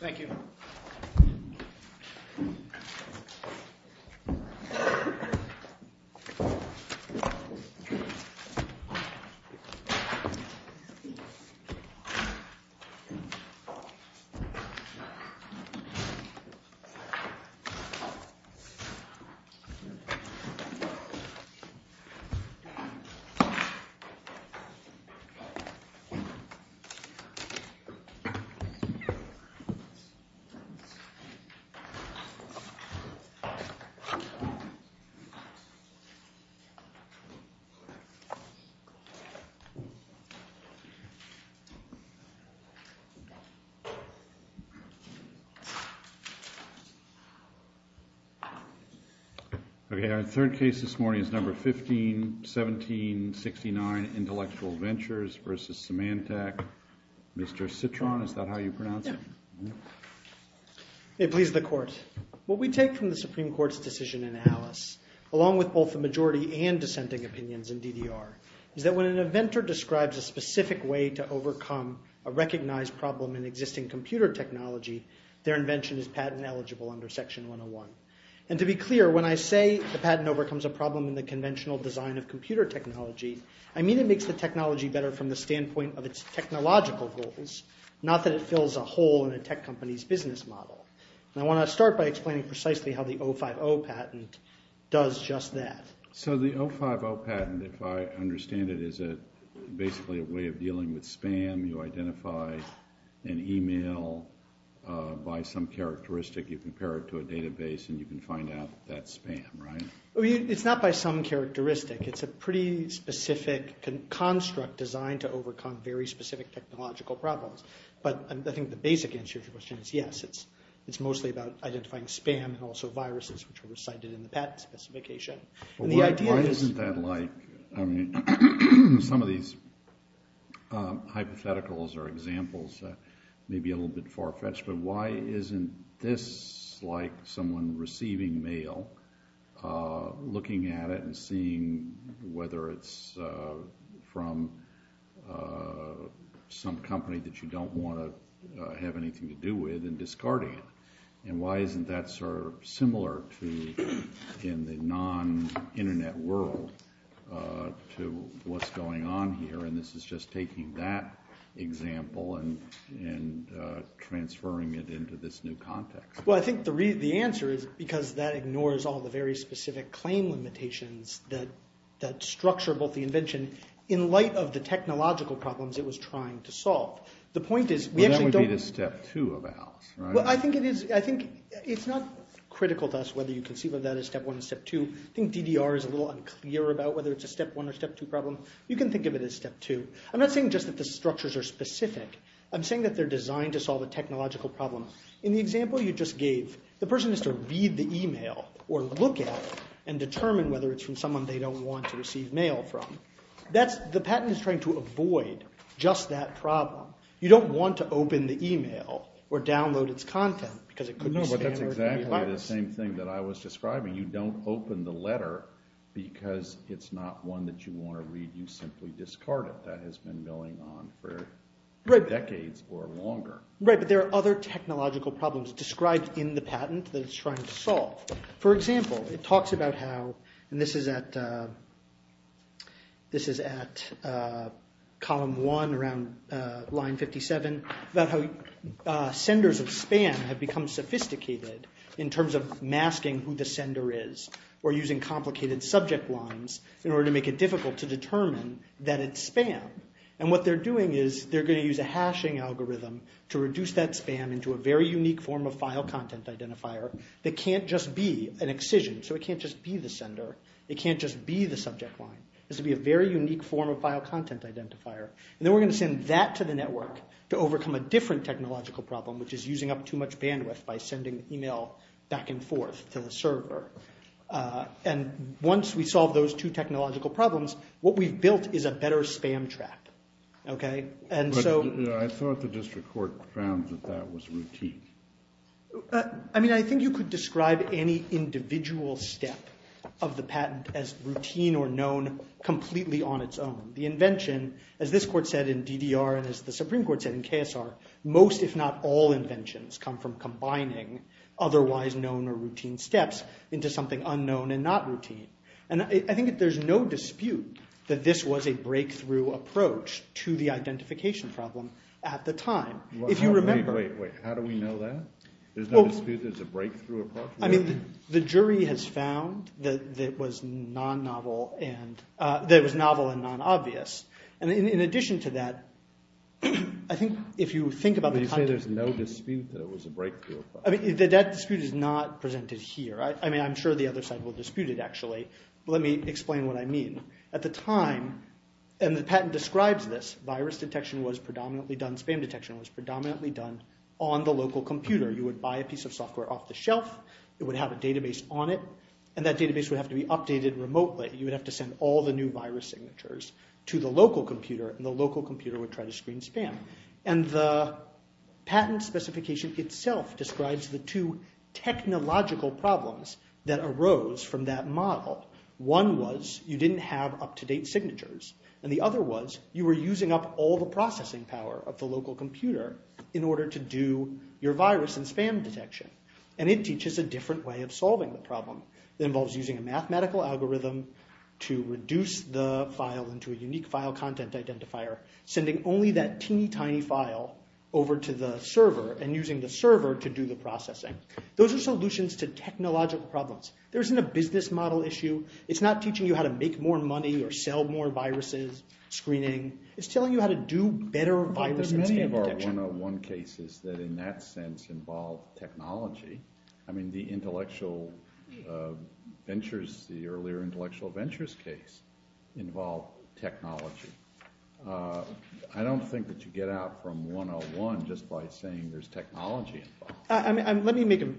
Thank you. Okay, our third case this morning is number 15-17-69, Intellectual Ventures v. Symantec. Mr. Citron, is that how you pronounce it? It pleases the Court. What we take from the Supreme Court's decision in Alice, along with both the majority and dissenting opinions in DDR, is that when an inventor describes a specific way to overcome a recognized problem in existing computer technology, their invention is patent eligible under Section 101. And to be clear, when I say the patent overcomes a problem in the conventional design of computer technology, I mean it makes the technology better from the standpoint of its technological goals, not that it fills a hole in a tech company's business model. And I want to start by explaining precisely how the 050 patent does just that. So the 050 patent, if I understand it, is basically a way of dealing with spam. You identify an email by some characteristic, you compare it to a database, and you can find out that's spam, right? It's not by some characteristic. It's a pretty specific construct designed to overcome very specific technological problems. But I think the basic answer to your question is yes, it's mostly about identifying spam and also viruses, which are recited in the patent specification. Why isn't that like, I mean, some of these hypotheticals or examples may be a little bit far-fetched, but why isn't this like someone receiving mail, looking at it and seeing whether it's from some company that you don't want to have anything to do with and discarding it? And why isn't that sort of similar in the non-Internet world to what's going on here? And this is just taking that example and transferring it into this new context. Well, I think the answer is because that ignores all the very specific claim limitations that structure both the invention in light of the technological problems it was trying to solve. But that would be the step two of Alice, right? Well, I think it's not critical to us whether you conceive of that as step one or step two. I think DDR is a little unclear about whether it's a step one or step two problem. You can think of it as step two. I'm not saying just that the structures are specific. I'm saying that they're designed to solve a technological problem. In the example you just gave, the person has to read the email or look at it and determine whether it's from someone they don't want to receive mail from. The patent is trying to avoid just that problem. You don't want to open the email or download its content because it could be standard. No, but that's exactly the same thing that I was describing. You don't open the letter because it's not one that you want to read. You simply discard it. That has been going on for decades or longer. Right, but there are other technological problems described in the patent that it's trying to solve. For example, it talks about how, and this is at column one around line 57, about how senders of spam have become sophisticated in terms of masking who the sender is or using complicated subject lines in order to make it difficult to determine that it's spam. What they're doing is they're going to use a hashing algorithm to reduce that spam into a very unique form of file content identifier that can't just be an excision. It can't just be the sender. It can't just be the subject line. It has to be a very unique form of file content identifier. Then we're going to send that to the network to overcome a different technological problem, which is using up too much bandwidth by sending email back and forth to the server. Once we solve those two technological problems, what we've built is a better spam trap. I thought the district court found that that was routine. I think you could describe any individual step of the patent as routine or known completely on its own. The invention, as this court said in DDR and as the Supreme Court said in KSR, most if not all inventions come from combining otherwise known or routine steps into something unknown and not routine. I think there's no dispute that this was a breakthrough approach to the identification problem at the time. If you remember- Wait, wait, wait. How do we know that? There's no dispute there's a breakthrough approach? The jury has found that it was novel and non-obvious. In addition to that, I think if you think about- You say there's no dispute that it was a breakthrough approach. That dispute is not presented here. I'm sure the other side will dispute it, actually. Let me explain what I mean. At the time, and the patent describes this, virus detection was predominantly done, spam detection was predominantly done on the local computer. You would buy a piece of software off the shelf. It would have a database on it, and that database would have to be updated remotely. You would have to send all the new virus signatures to the local computer, and the local computer would try to screen spam. The patent specification itself describes the two technological problems that arose from that model. One was you didn't have up-to-date signatures, and the other was you were using up all the processing power of the local computer in order to do your virus and spam detection, and it teaches a different way of solving the problem. It involves using a mathematical algorithm to reduce the file into a unique file content identifier, sending only that teeny tiny file over to the server and using the server to do the processing. Those are solutions to technological problems. There isn't a business model issue. It's not teaching you how to make more money or sell more viruses, screening. It's telling you how to do better virus and spam detection. There's many of our 101 cases that in that sense involve technology. I mean the intellectual ventures, the earlier intellectual ventures case involved technology. I don't think that you get out from 101 just by saying there's technology involved. Let me make it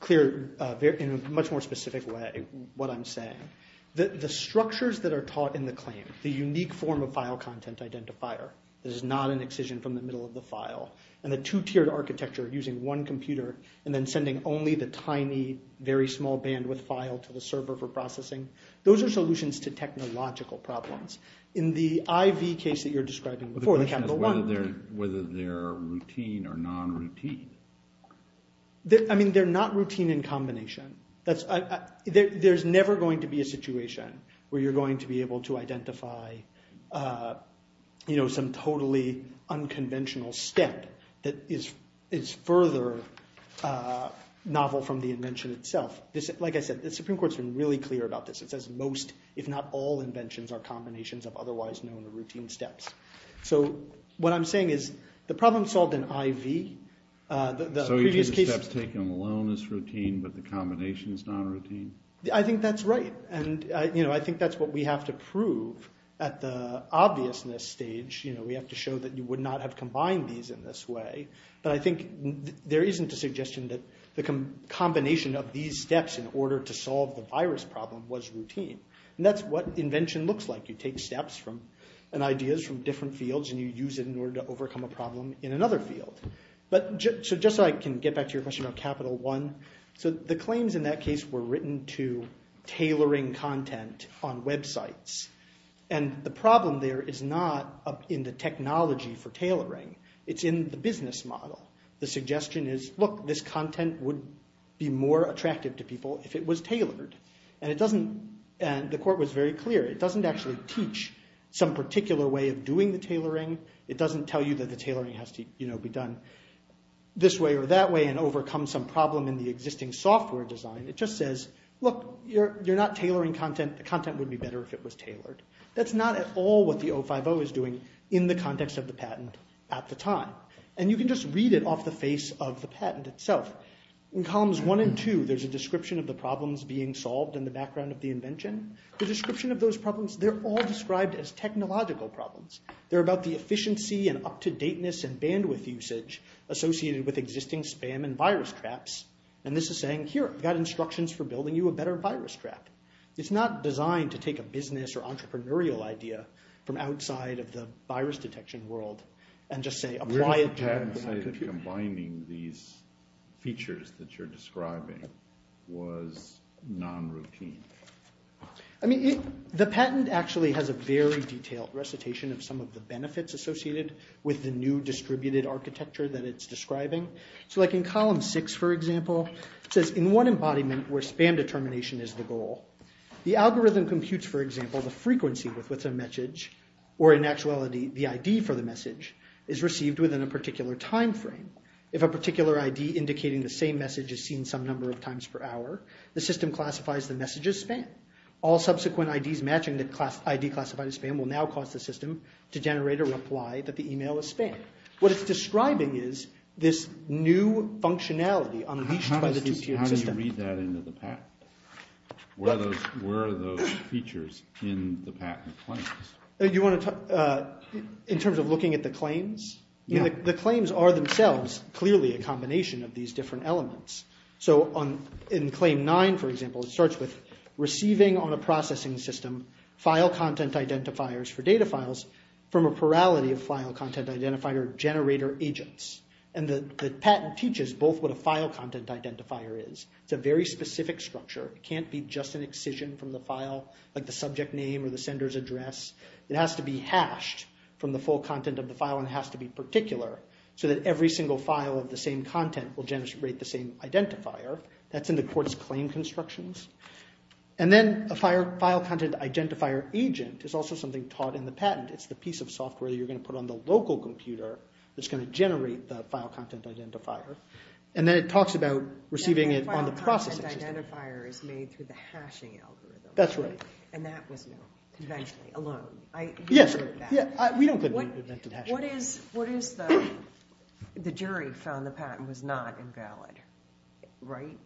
clear in a much more specific way what I'm saying. The structures that are taught in the claim, the unique form of file content identifier that is not an excision from the middle of the file, and the two-tiered architecture of using one computer and then sending only the tiny very small bandwidth file to the server for processing, those are solutions to technological problems. In the IV case that you're describing before, they have the one. The question is whether they're routine or non-routine. I mean they're not routine in combination. There's never going to be a situation where you're going to be able to identify some totally unconventional step that is further novel from the invention itself. Like I said, the Supreme Court's been really clear about this. It says most, if not all, inventions are combinations of otherwise known or routine steps. So what I'm saying is the problem solved in IV. So each of the steps taken alone is routine but the combination is non-routine? I think that's right. I think that's what we have to prove at the obviousness stage. We have to show that you would not have combined these in this way. But I think there isn't a suggestion that the combination of these steps in order to solve the virus problem was routine. That's what invention looks like. You take steps and ideas from different fields and you use it in order to overcome a problem in another field. So just so I can get back to your question about Capital One. So the claims in that case were written to tailoring content on websites. And the problem there is not in the technology for tailoring. It's in the business model. The suggestion is, look, this content would be more attractive to people if it was tailored. And the court was very clear. It doesn't actually teach some particular way of doing the tailoring. It doesn't tell you that the tailoring has to be done this way or that way and overcome some problem in the existing software design. It just says, look, you're not tailoring content. The content would be better if it was tailored. That's not at all what the 050 is doing in the context of the patent at the time. And you can just read it off the face of the patent itself. In columns 1 and 2, there's a description of the problems being solved in the background of the invention. The description of those problems, they're all described as technological problems. They're about the efficiency and up-to-dateness and bandwidth usage associated with existing spam and virus traps. And this is saying, here, I've got instructions for building you a better virus trap. It's not designed to take a business or entrepreneurial idea from outside of the virus detection world and just say, apply it to your computer. Combining these features that you're describing was non-routine. I mean, the patent actually has a very detailed recitation of some of the benefits associated with the new distributed architecture that it's describing. So like in column 6, for example, it says, in one embodiment where spam determination is the goal, the algorithm computes, for example, the frequency with which a message, or in actuality, the ID for the message, is received within a particular time frame. If a particular ID indicating the same message is seen some number of times per hour, the system classifies the message as spam. All subsequent IDs matching the ID classified as spam will now cause the system to generate a reply that the email is spam. What it's describing is this new functionality unleashed by the two-tiered system. How do you read that into the patent? Where are those features in the patent claims? In terms of looking at the claims? The claims are themselves clearly a combination of these different elements. So in claim 9, for example, it starts with, receiving on a processing system file content identifiers for data files from a plurality of file content identifier generator agents. The patent teaches both what a file content identifier is. It's a very specific structure. It can't be just an excision from the file, like the subject name or the sender's address. It has to be hashed from the full content of the file, and it has to be particular, so that every single file of the same content will generate the same identifier. That's in the court's claim constructions. Then a file content identifier agent is also something taught in the patent. It's the piece of software that you're going to put on the local computer that's going to generate the file content identifier, and then it talks about receiving it on the processing system. The file content identifier is made through the hashing algorithm. That's right. And that was known conventionally, alone. Yes. We don't claim to have invented hashing. What is the, the jury found the patent was not invalid, right,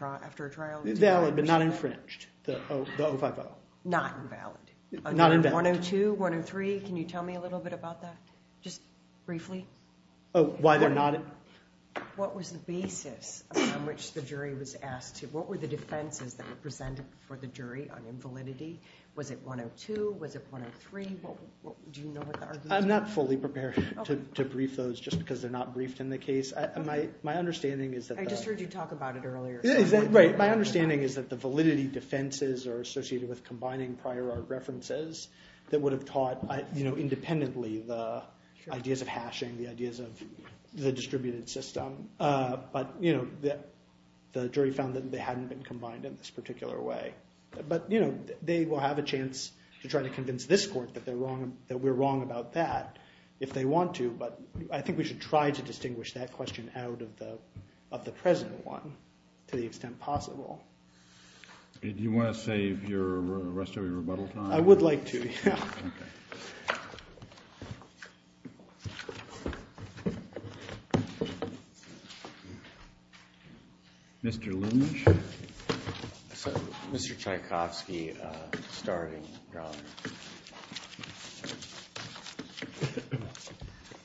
after a trial? Valid, but not infringed, the 050. Not invalid. Not invalid. 102, 103, can you tell me a little bit about that? Just briefly. Oh, why they're not? What was the basis on which the jury was asked to, what were the defenses that were presented before the jury on invalidity? Was it 102? Was it 103? Do you know what the arguments were? I'm not fully prepared to brief those just because they're not briefed in the case. My understanding is that the – I just heard you talk about it earlier. Right, my understanding is that the validity defenses are associated with combining prior art references that would have taught, you know, independently the ideas of hashing, the ideas of the distributed system. But, you know, the jury found that they hadn't been combined in this particular way. But, you know, they will have a chance to try to convince this court that they're wrong, that we're wrong about that if they want to. But I think we should try to distinguish that question out of the present one to the extent possible. Do you want to save the rest of your rebuttal time? I would like to, yeah. Mr. Lynch. Mr. Tchaikovsky, starting.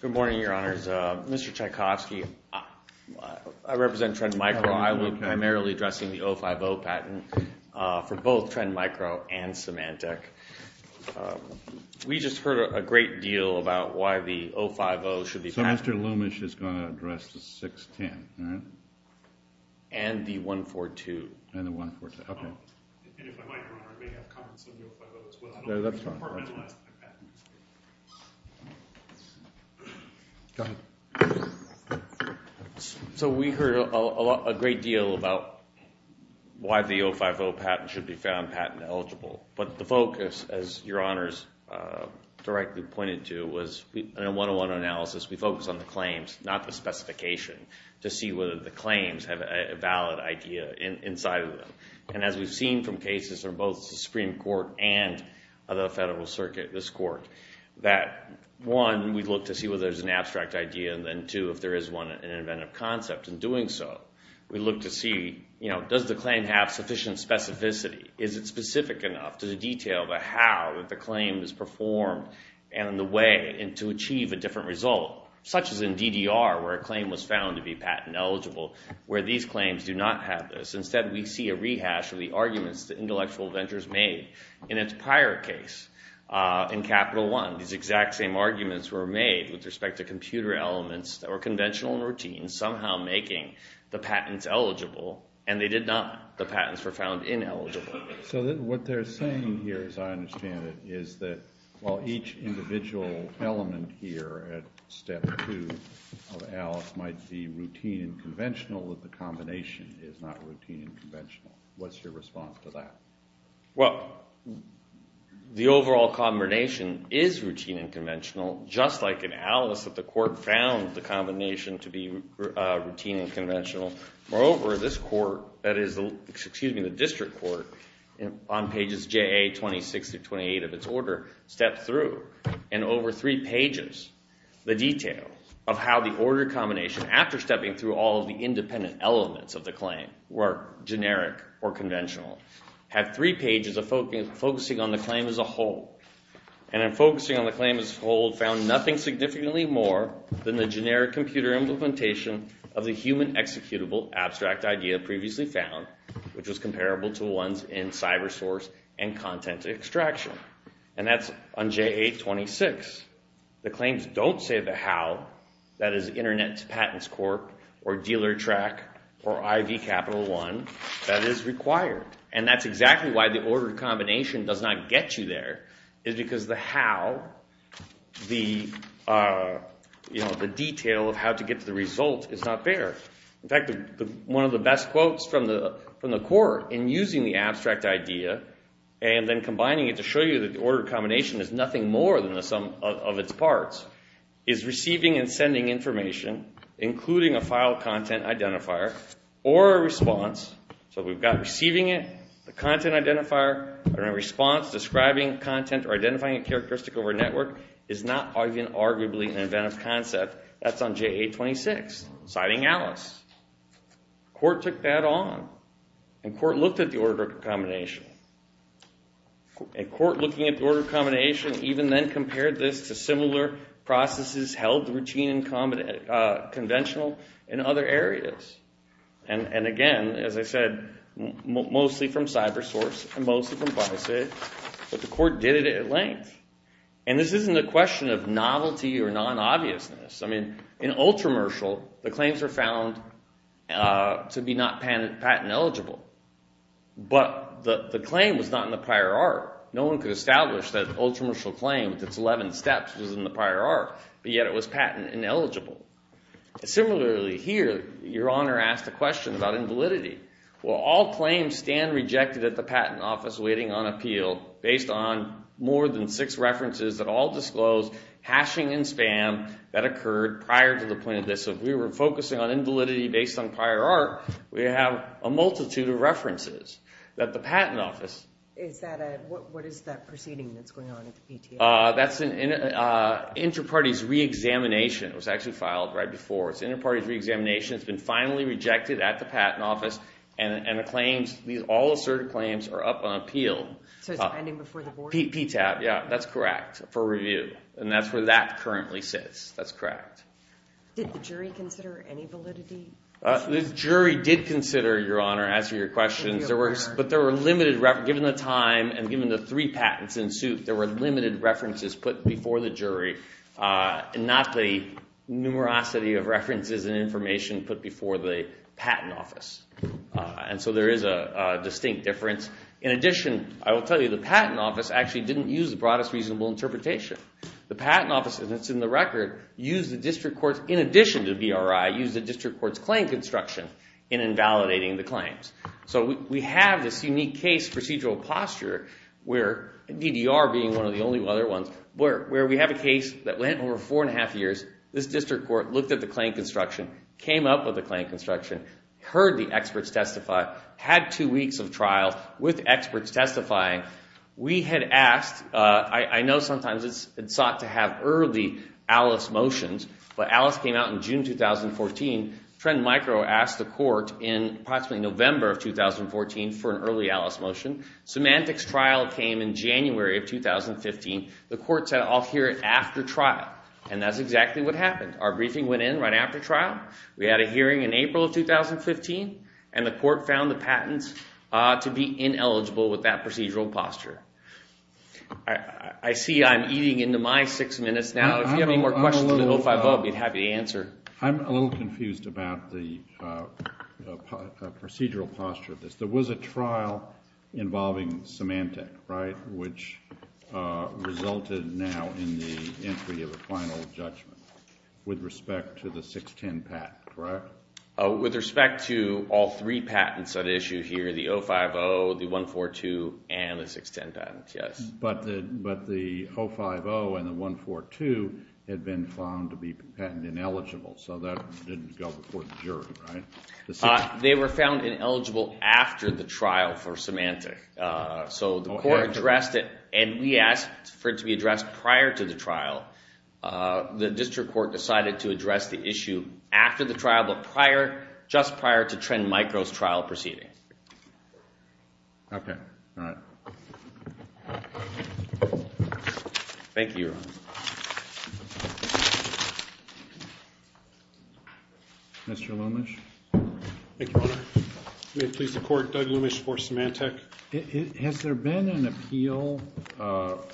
Good morning, Your Honors. Mr. Tchaikovsky, I represent Trend Micro. I'm primarily addressing the 050 patent for both Trend Micro and Symantec. We just heard a great deal about why the 050 should be patented. So Mr. Lumish is going to address the 610, all right? And the 142. And the 142, okay. And if I might, Your Honor, I may have comments on the 050 as well. That's fine. Go ahead. So we heard a great deal about why the 050 patent should be found patent eligible. But the focus, as Your Honors directly pointed to, was in a one-on-one analysis, we focused on the claims, not the specification, to see whether the claims have a valid idea inside of them. And as we've seen from cases from both the Supreme Court and the Federal Circuit, this court, that one, we look to see whether there's an abstract idea, and then two, if there is one, an inventive concept in doing so. We look to see, you know, does the claim have sufficient specificity? Is it specific enough? Does it detail the how that the claim is performed and the way to achieve a different result? Such as in DDR, where a claim was found to be patent eligible, where these claims do not have this. Instead, we see a rehash of the arguments that Intellectual Ventures made in its prior case in Capital One. These exact same arguments were made with respect to computer elements that were conventional and routine, somehow making the patents eligible, and they did not. The patents were found ineligible. So what they're saying here, as I understand it, is that while each individual element here at step two of Alice might be routine and conventional, the combination is not routine and conventional. What's your response to that? Well, the overall combination is routine and conventional, just like in Alice that the court found the combination to be routine and conventional. Moreover, this court, that is, excuse me, the district court, on pages JA-26 through 28 of its order, stepped through, and over three pages, the detail of how the order combination, after stepping through all of the independent elements of the claim, were generic or conventional. Had three pages focusing on the claim as a whole. And in focusing on the claim as a whole, found nothing significantly more than the generic computer implementation of the human executable abstract idea previously found, which was comparable to ones in cyber source and content extraction. And that's on JA-26. The claims don't say the how, that is, Internet Patents Corp. or Dealer Track or IV Capital One, that is required. And that's exactly why the order combination does not get you there, is because the how, the detail of how to get to the result, is not there. In fact, one of the best quotes from the court in using the abstract idea and then combining it to show you that the order combination is nothing more than the sum of its parts, is receiving and sending information, including a file content identifier, or a response. So we've got receiving it, the content identifier, and a response describing content or identifying a characteristic over a network is not arguably an inventive concept. That's on JA-26, citing Alice. Court took that on. And court looked at the order combination. And court looking at the order combination even then compared this to similar processes held routine and conventional in other areas. And again, as I said, mostly from CyberSource and mostly from BiSafe. But the court did it at length. And this isn't a question of novelty or non-obviousness. I mean, in Ultramercial, the claims were found to be not patent eligible. But the claim was not in the prior art. No one could establish that Ultramercial claims, its 11 steps, was in the prior art, but yet it was patent ineligible. Similarly here, Your Honor asked a question about invalidity. Will all claims stand rejected at the patent office waiting on appeal based on more than six references that all disclose hashing and spam that occurred prior to the point of this? So if we were focusing on invalidity based on prior art, we have a multitude of references that the patent office What is that proceeding that's going on at the PTA? That's Interparties Reexamination. It was actually filed right before. It's Interparties Reexamination. It's been finally rejected at the patent office. And the claims, all asserted claims, are up on appeal. So it's pending before the board? PTAP, yeah, that's correct, for review. And that's where that currently sits. That's correct. Did the jury consider any validity? The jury did consider, Your Honor, as to your questions. But there were limited references. Given the time and given the three patents in suit, there were limited references put before the jury and not the numerosity of references and information put before the patent office. And so there is a distinct difference. In addition, I will tell you, the patent office actually didn't use the broadest reasonable interpretation. The patent office, as it's in the record, used the district courts in addition to the BRI, used the district courts' claim construction in invalidating the claims. So we have this unique case procedural posture where, DDR being one of the only other ones, where we have a case that went over four and a half years. This district court looked at the claim construction, came up with the claim construction, heard the experts testify, had two weeks of trial with experts testifying. We had asked, I know sometimes it's thought to have early Alice motions, but Alice came out in June 2014. Trend Micro asked the court in approximately November of 2014 for an early Alice motion. Symantec's trial came in January of 2015. The court said, I'll hear it after trial. And that's exactly what happened. Our briefing went in right after trial. We had a hearing in April of 2015, and the court found the patents to be ineligible with that procedural posture. I see I'm eating into my six minutes now. If you have any more questions about 050, I'd be happy to answer. I'm a little confused about the procedural posture of this. There was a trial involving Symantec, right, which resulted now in the entry of a final judgment with respect to the 610 patent, correct? With respect to all three patents at issue here, the 050, the 142, and the 610 patents, yes. But the 050 and the 142 had been found to be patent ineligible, so that didn't go before the jury, right? They were found ineligible after the trial for Symantec. So the court addressed it, and we asked for it to be addressed prior to the trial. The district court decided to address the issue after the trial, but just prior to Trend Micro's trial proceeding. Okay. All right. Thank you, Your Honor. Mr. Lumish? Thank you, Your Honor. May it please the court, Doug Lumish for Symantec. Has there been an appeal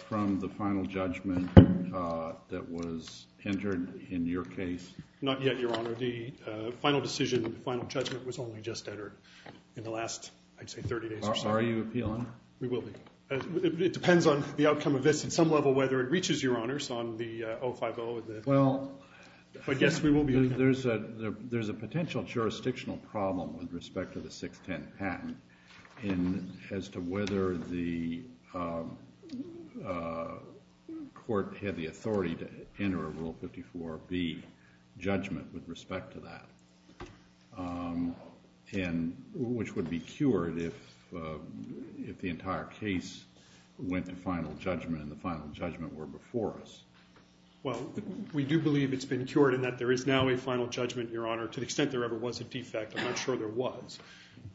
from the final judgment that was entered in your case? Not yet, Your Honor. The final decision, the final judgment was only just entered in the last, I'd say, 30 days or so. Are you appealing? We will be. It depends on the outcome of this at some level, whether it reaches your honors on the 050. Well, there's a potential jurisdictional problem with respect to the 610 patent as to whether the court had the authority to enter a Rule 54B judgment with respect to that, which would be cured if the entire case went to final judgment and the final judgment were before us. Well, we do believe it's been cured and that there is now a final judgment, Your Honor. To the extent there ever was a defect, I'm not sure there was.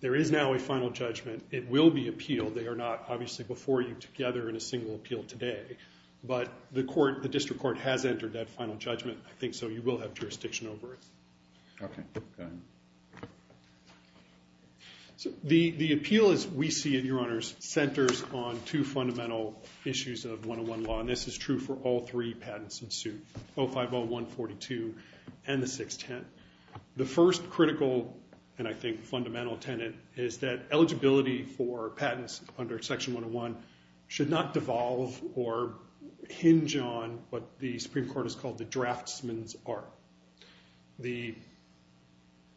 There is now a final judgment. It will be appealed. They are not, obviously, before you together in a single appeal today. But the district court has entered that final judgment. I think so. You will have jurisdiction over it. Okay. Go ahead. The appeal, as we see it, Your Honors, centers on two fundamental issues of 101 law, and this is true for all three patents in suit, 050, 142, and the 610. The first critical and, I think, fundamental tenet is that eligibility for patents under Section 101 should not devolve or hinge on what the Supreme Court has called the draftsman's art, the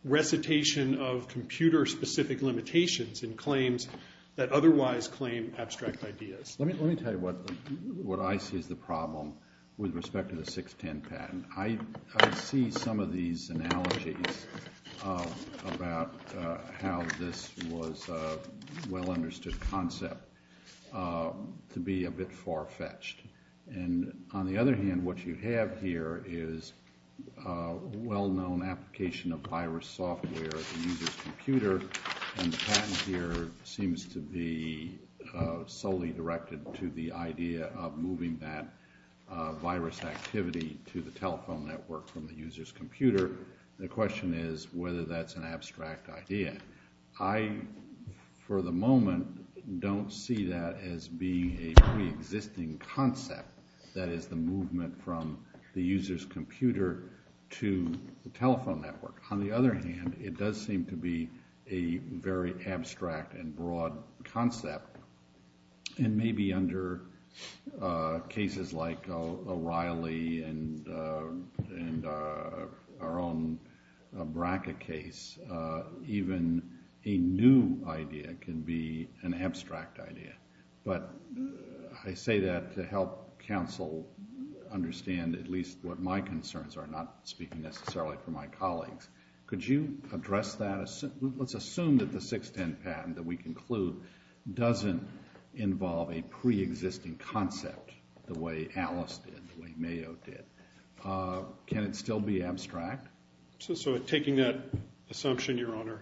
recitation of computer-specific limitations in claims that otherwise claim abstract ideas. Let me tell you what I see as the problem with respect to the 610 patent. I see some of these analogies about how this was a well-understood concept to be a bit far-fetched. On the other hand, what you have here is a well-known application of virus software at the user's computer, and the patent here seems to be solely directed to the idea of moving that virus activity to the telephone network from the user's computer. The question is whether that's an abstract idea. I, for the moment, don't see that as being a preexisting concept, that is, the movement from the user's computer to the telephone network. On the other hand, it does seem to be a very abstract and broad concept, and maybe under cases like O'Reilly and our own BRCA case, even a new idea can be an abstract idea. But I say that to help counsel understand at least what my concerns are, not speaking necessarily for my colleagues. Could you address that? Let's assume that the 610 patent that we conclude doesn't involve a preexisting concept the way Alice did, the way Mayo did. Can it still be abstract? Taking that assumption, Your Honor,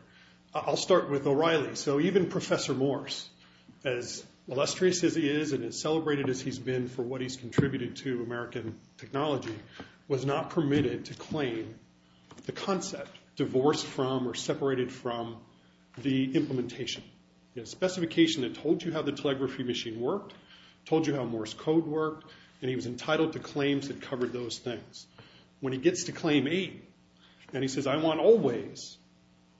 I'll start with O'Reilly. Even Professor Morse, as illustrious as he is and as celebrated as he's been for what he's contributed to American technology, was not permitted to claim the concept divorced from or separated from the implementation. The specification that told you how the telegraphy machine worked, told you how Morse code worked, and he was entitled to claims that covered those things. When he gets to Claim 8 and he says, I want all ways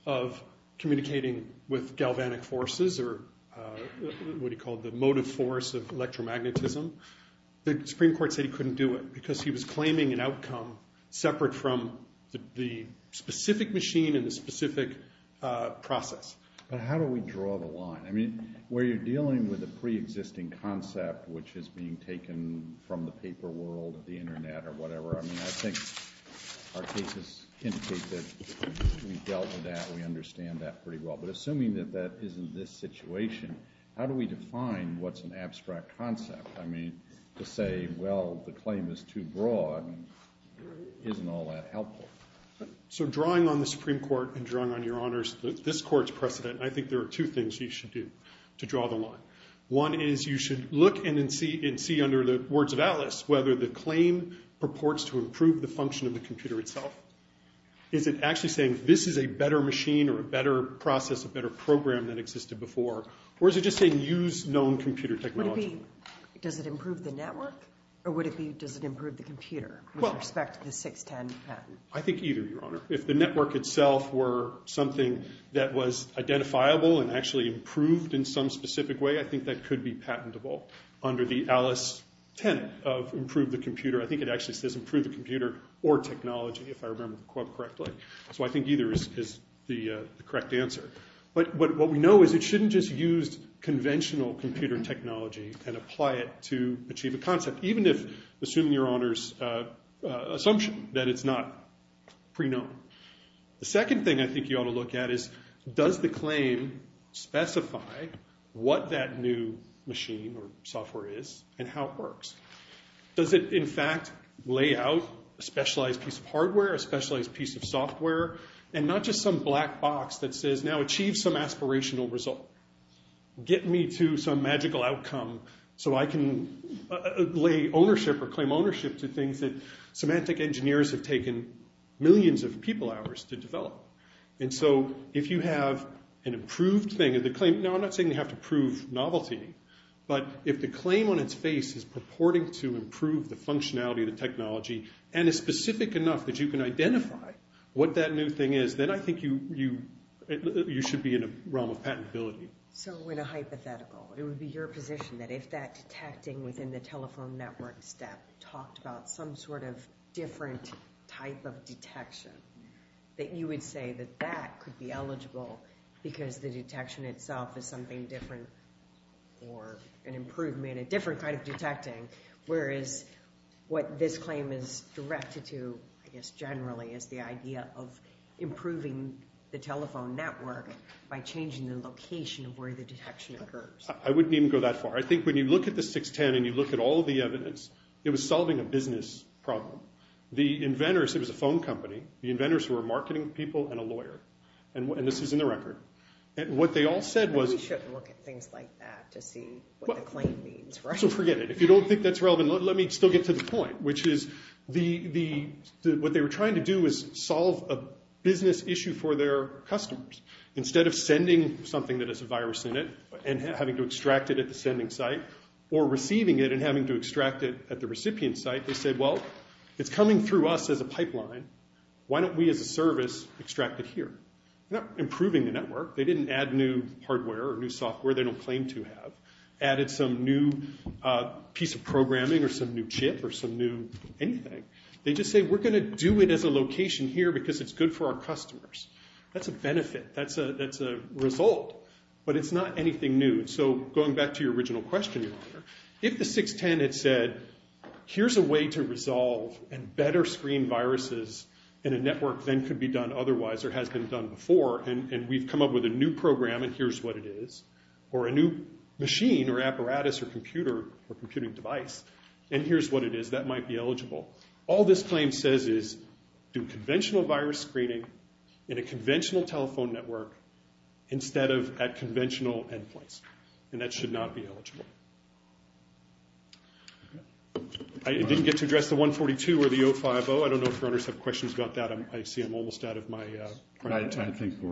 of communicating with galvanic forces, or what he called the motive force of electromagnetism, the Supreme Court said he couldn't do it because he was claiming an outcome separate from the specific machine and the specific process. But how do we draw the line? I mean, where you're dealing with a preexisting concept which is being taken from the paper world, the internet, or whatever, I mean, I think our cases indicate that we've dealt with that, we understand that pretty well. But assuming that that isn't this situation, how do we define what's an abstract concept? I mean, to say, well, the claim is too broad isn't all that helpful. So drawing on the Supreme Court and drawing on your honors, this court's precedent, and I think there are two things you should do to draw the line. One is you should look and see under the words of Atlas whether the claim purports to improve the function of the computer itself. Is it actually saying this is a better machine or a better process, a better program than existed before, or is it just saying use known computer technology? Does it improve the network, or does it improve the computer with respect to the 610 patent? I think either, Your Honor. If the network itself were something that was identifiable and actually improved in some specific way, I think that could be patentable under the Alice tenet of improve the computer. I think it actually says improve the computer or technology, if I remember the quote correctly. So I think either is the correct answer. But what we know is it shouldn't just use conventional computer technology and apply it to achieve a concept, even if assuming your honors assumption that it's not pre-known. The second thing I think you ought to look at is does the claim specify what that new machine or software is and how it works? Does it, in fact, lay out a specialized piece of hardware, a specialized piece of software, and not just some black box that says, now achieve some aspirational result. Get me to some magical outcome so I can lay ownership or claim ownership to things that semantic engineers have taken millions of people hours to develop. And so if you have an improved thing, now I'm not saying you have to prove novelty, but if the claim on its face is purporting to improve the functionality of the technology and is specific enough that you can identify what that new thing is, then I think you should be in a realm of patentability. So in a hypothetical, it would be your position that if that detecting within the telephone network step talked about some sort of different type of detection, that you would say that that could be eligible because the detection itself is something different or an improvement, a different kind of detecting, whereas what this claim is directed to, I guess generally, is the idea of improving the telephone network by changing the location of where the detection occurs. I wouldn't even go that far. I think when you look at the 610 and you look at all the evidence, it was solving a business problem. The inventors, it was a phone company, the inventors were marketing people and a lawyer. And this is in the record. And what they all said was... We should look at things like that to see what the claim means, right? So forget it. If you don't think that's relevant, let me still get to the point, which is what they were trying to do was solve a business issue for their customers. Instead of sending something that has a virus in it and having to extract it at the sending site or receiving it and having to extract it at the recipient site, they said, well, it's coming through us as a pipeline. Why don't we as a service extract it here? They're not improving the network. They didn't add new hardware or new software they don't claim to have. Added some new piece of programming or some new chip or some new anything. They just say, we're going to do it as a location here because it's good for our customers. That's a benefit. That's a result. But it's not anything new. So going back to your original question, Your Honor, if the 610 had said, here's a way to resolve and better screen viruses in a network than could be done otherwise or has been done before, and we've come up with a new program and here's what it is, or a new machine or apparatus or computer or computing device, and here's what it is. That might be eligible. All this claim says is do conventional virus screening in a conventional telephone network instead of at conventional endpoints, and that should not be eligible. I didn't get to address the 142 or the 050. I don't know if Your Honors have questions about that. I see I'm almost out of my time. I think we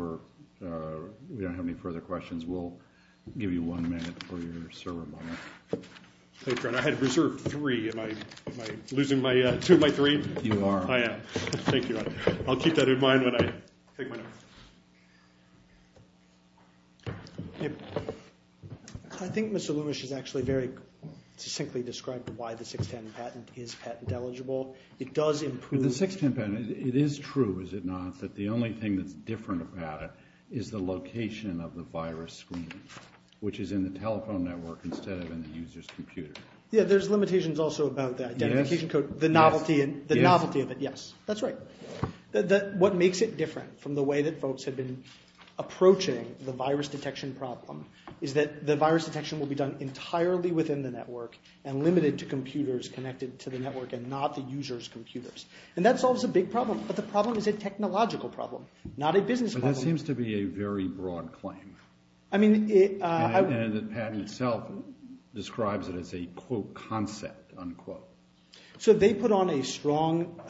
don't have any further questions. We'll give you one minute for your server moment. Thank you, Your Honor. I had reserved three. Am I losing two of my three? You are. I am. Thank you. I'll keep that in mind when I take my next one. I think Mr. Lewish has actually very succinctly described why the 610 patent is patent eligible. It does improve. The 610 patent, it is true, is it not, that the only thing that's different about it is the location of the virus screen, which is in the telephone network instead of in the user's computer. Yeah, there's limitations also about that. Identification code, the novelty of it, yes, that's right. What makes it different from the way that folks have been approaching the virus detection problem is that the virus detection will be done entirely within the network and limited to computers connected to the network and not the user's computers, and that solves a big problem, but the problem is a technological problem, not a business problem. But that seems to be a very broad claim, and the patent itself describes it as a, quote, concept, unquote. So they put on a strong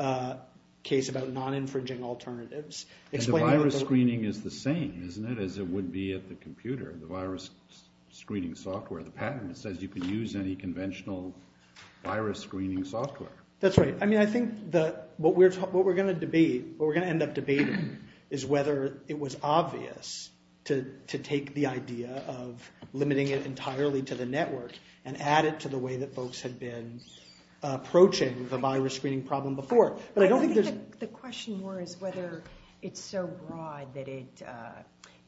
case about non-infringing alternatives. The virus screening is the same, isn't it, as it would be at the computer, the virus screening software, the patent that says you can use any conventional virus screening software. That's right. I mean, I think what we're going to end up debating is whether it was obvious to take the idea of limiting it entirely to the network and add it to the way that folks had been approaching the virus screening problem before. I think the question more is whether it's so broad that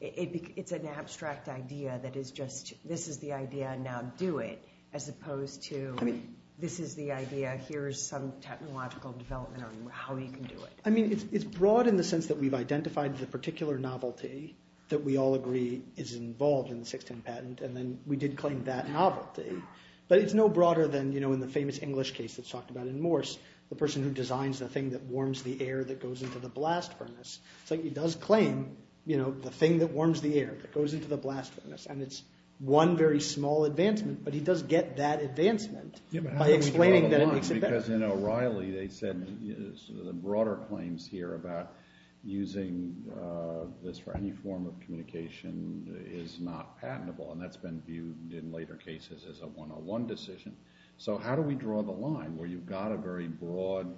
it's an abstract idea that is just this is the idea, now do it, as opposed to this is the idea, here is some technological development on how you can do it. I mean, it's broad in the sense that we've identified the particular novelty that we all agree is involved in the 610 patent, and then we did claim that novelty. But it's no broader than in the famous English case that's talked about in Morse, the person who designs the thing that warms the air that goes into the blast furnace. It's like he does claim the thing that warms the air that goes into the blast furnace, and it's one very small advancement, but he does get that advancement by explaining that it makes it better. Because in O'Reilly they said the broader claims here about using this for any form of communication is not patentable, and that's been viewed in later cases as a one-on-one decision. So how do we draw the line where you've got a very broad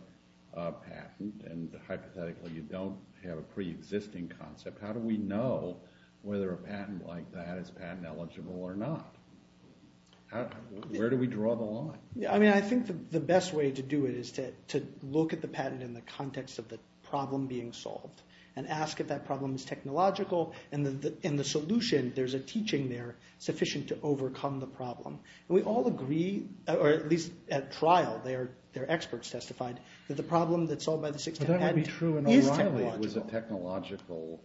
patent and hypothetically you don't have a pre-existing concept, how do we know whether a patent like that is patent eligible or not? Where do we draw the line? I think the best way to do it is to look at the patent in the context of the problem being solved and ask if that problem is technological, and in the solution there's a teaching there sufficient to overcome the problem. We all agree, or at least at trial their experts testified, that the problem that's solved by the 610 patent is technological. But that would be true in O'Reilly. It was a technological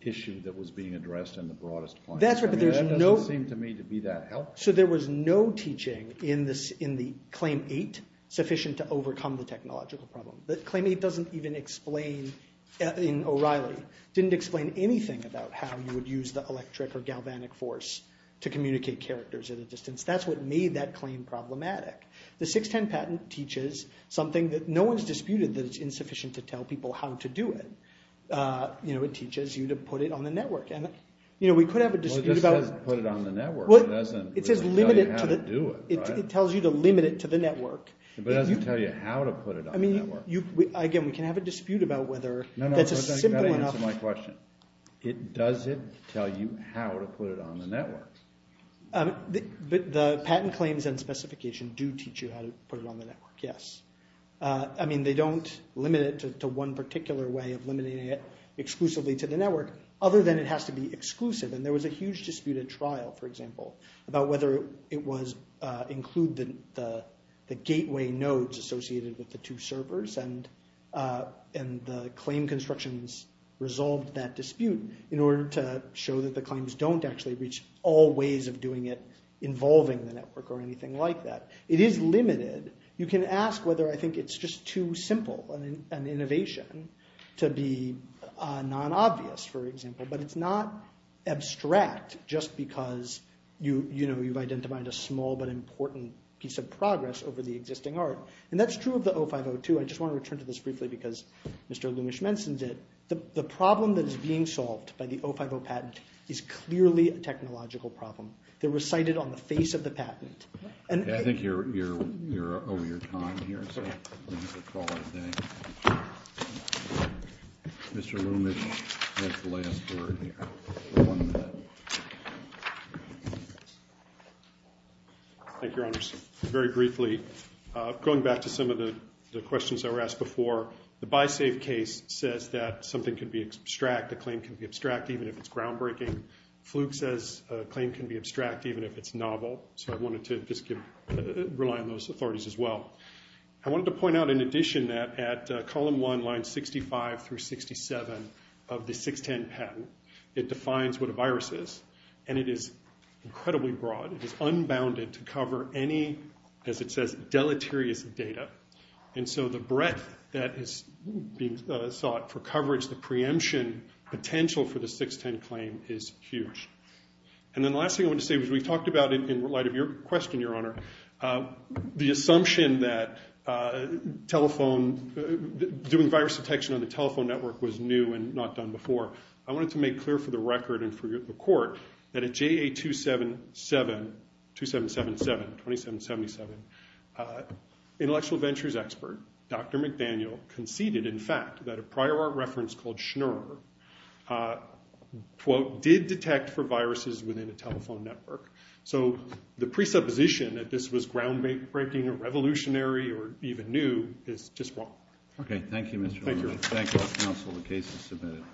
issue that was being addressed in the broadest plan. That doesn't seem to me to be that helpful. So there was no teaching in the Claim 8 sufficient to overcome the technological problem. The Claim 8 doesn't even explain, in O'Reilly, didn't explain anything about how you would use the electric or galvanic force to communicate characters at a distance. That's what made that claim problematic. The 610 patent teaches something that no one's disputed, that it's insufficient to tell people how to do it. It teaches you to put it on the network. Well, it just says put it on the network. It doesn't tell you how to do it, right? It tells you to limit it to the network. But it doesn't tell you how to put it on the network. Again, we can have a dispute about whether that's a simple enough... No, no, you've got to answer my question. Does it tell you how to put it on the network? The patent claims and specification do teach you how to put it on the network, yes. I mean, they don't limit it to one particular way of limiting it exclusively to the network, other than it has to be exclusive. And there was a huge dispute at trial, for example, about whether it was include the gateway nodes associated with the two servers, and the claim constructions resolved that dispute in order to show that the claims don't actually reach all ways of doing it involving the network or anything like that. It is limited. You can ask whether I think it's just too simple an innovation to be non-obvious, for example. But it's not abstract just because you've identified a small but important piece of progress over the existing art. And that's true of the 0502. I just want to return to this briefly because Mr. Lumish mentioned it. The problem that is being solved by the 050 patent is clearly a technological problem. They're recited on the face of the patent. I think you're over your time here, so I'm going to call it a day. Mr. Lumish has the last word here. Thank you, Your Honors. Very briefly, going back to some of the questions that were asked before, the BiSafe case says that something can be abstract, a claim can be abstract even if it's groundbreaking. Fluke says a claim can be abstract even if it's novel. So I wanted to just rely on those authorities as well. I wanted to point out in addition that at Column 1, Lines 65 through 67 of the 610 patent, it defines what a virus is, and it is incredibly broad. It is unbounded to cover any, as it says, deleterious data. And so the breadth that is being sought for coverage, the preemption potential for the 610 claim is huge. And then the last thing I wanted to say was we talked about it in light of your question, Your Honor. The assumption that doing virus detection on the telephone network was new and not done before. I wanted to make clear for the record and for the court that at JA 2777, 2777, 2777, intellectual ventures expert Dr. McDaniel conceded, in fact, that a prior art reference called Schnur, quote, did detect for viruses within a telephone network. So the presupposition that this was groundbreaking or revolutionary or even new is just wrong. Okay. Thank you, Mr. O'Malley. Thank you, counsel, the case is submitted.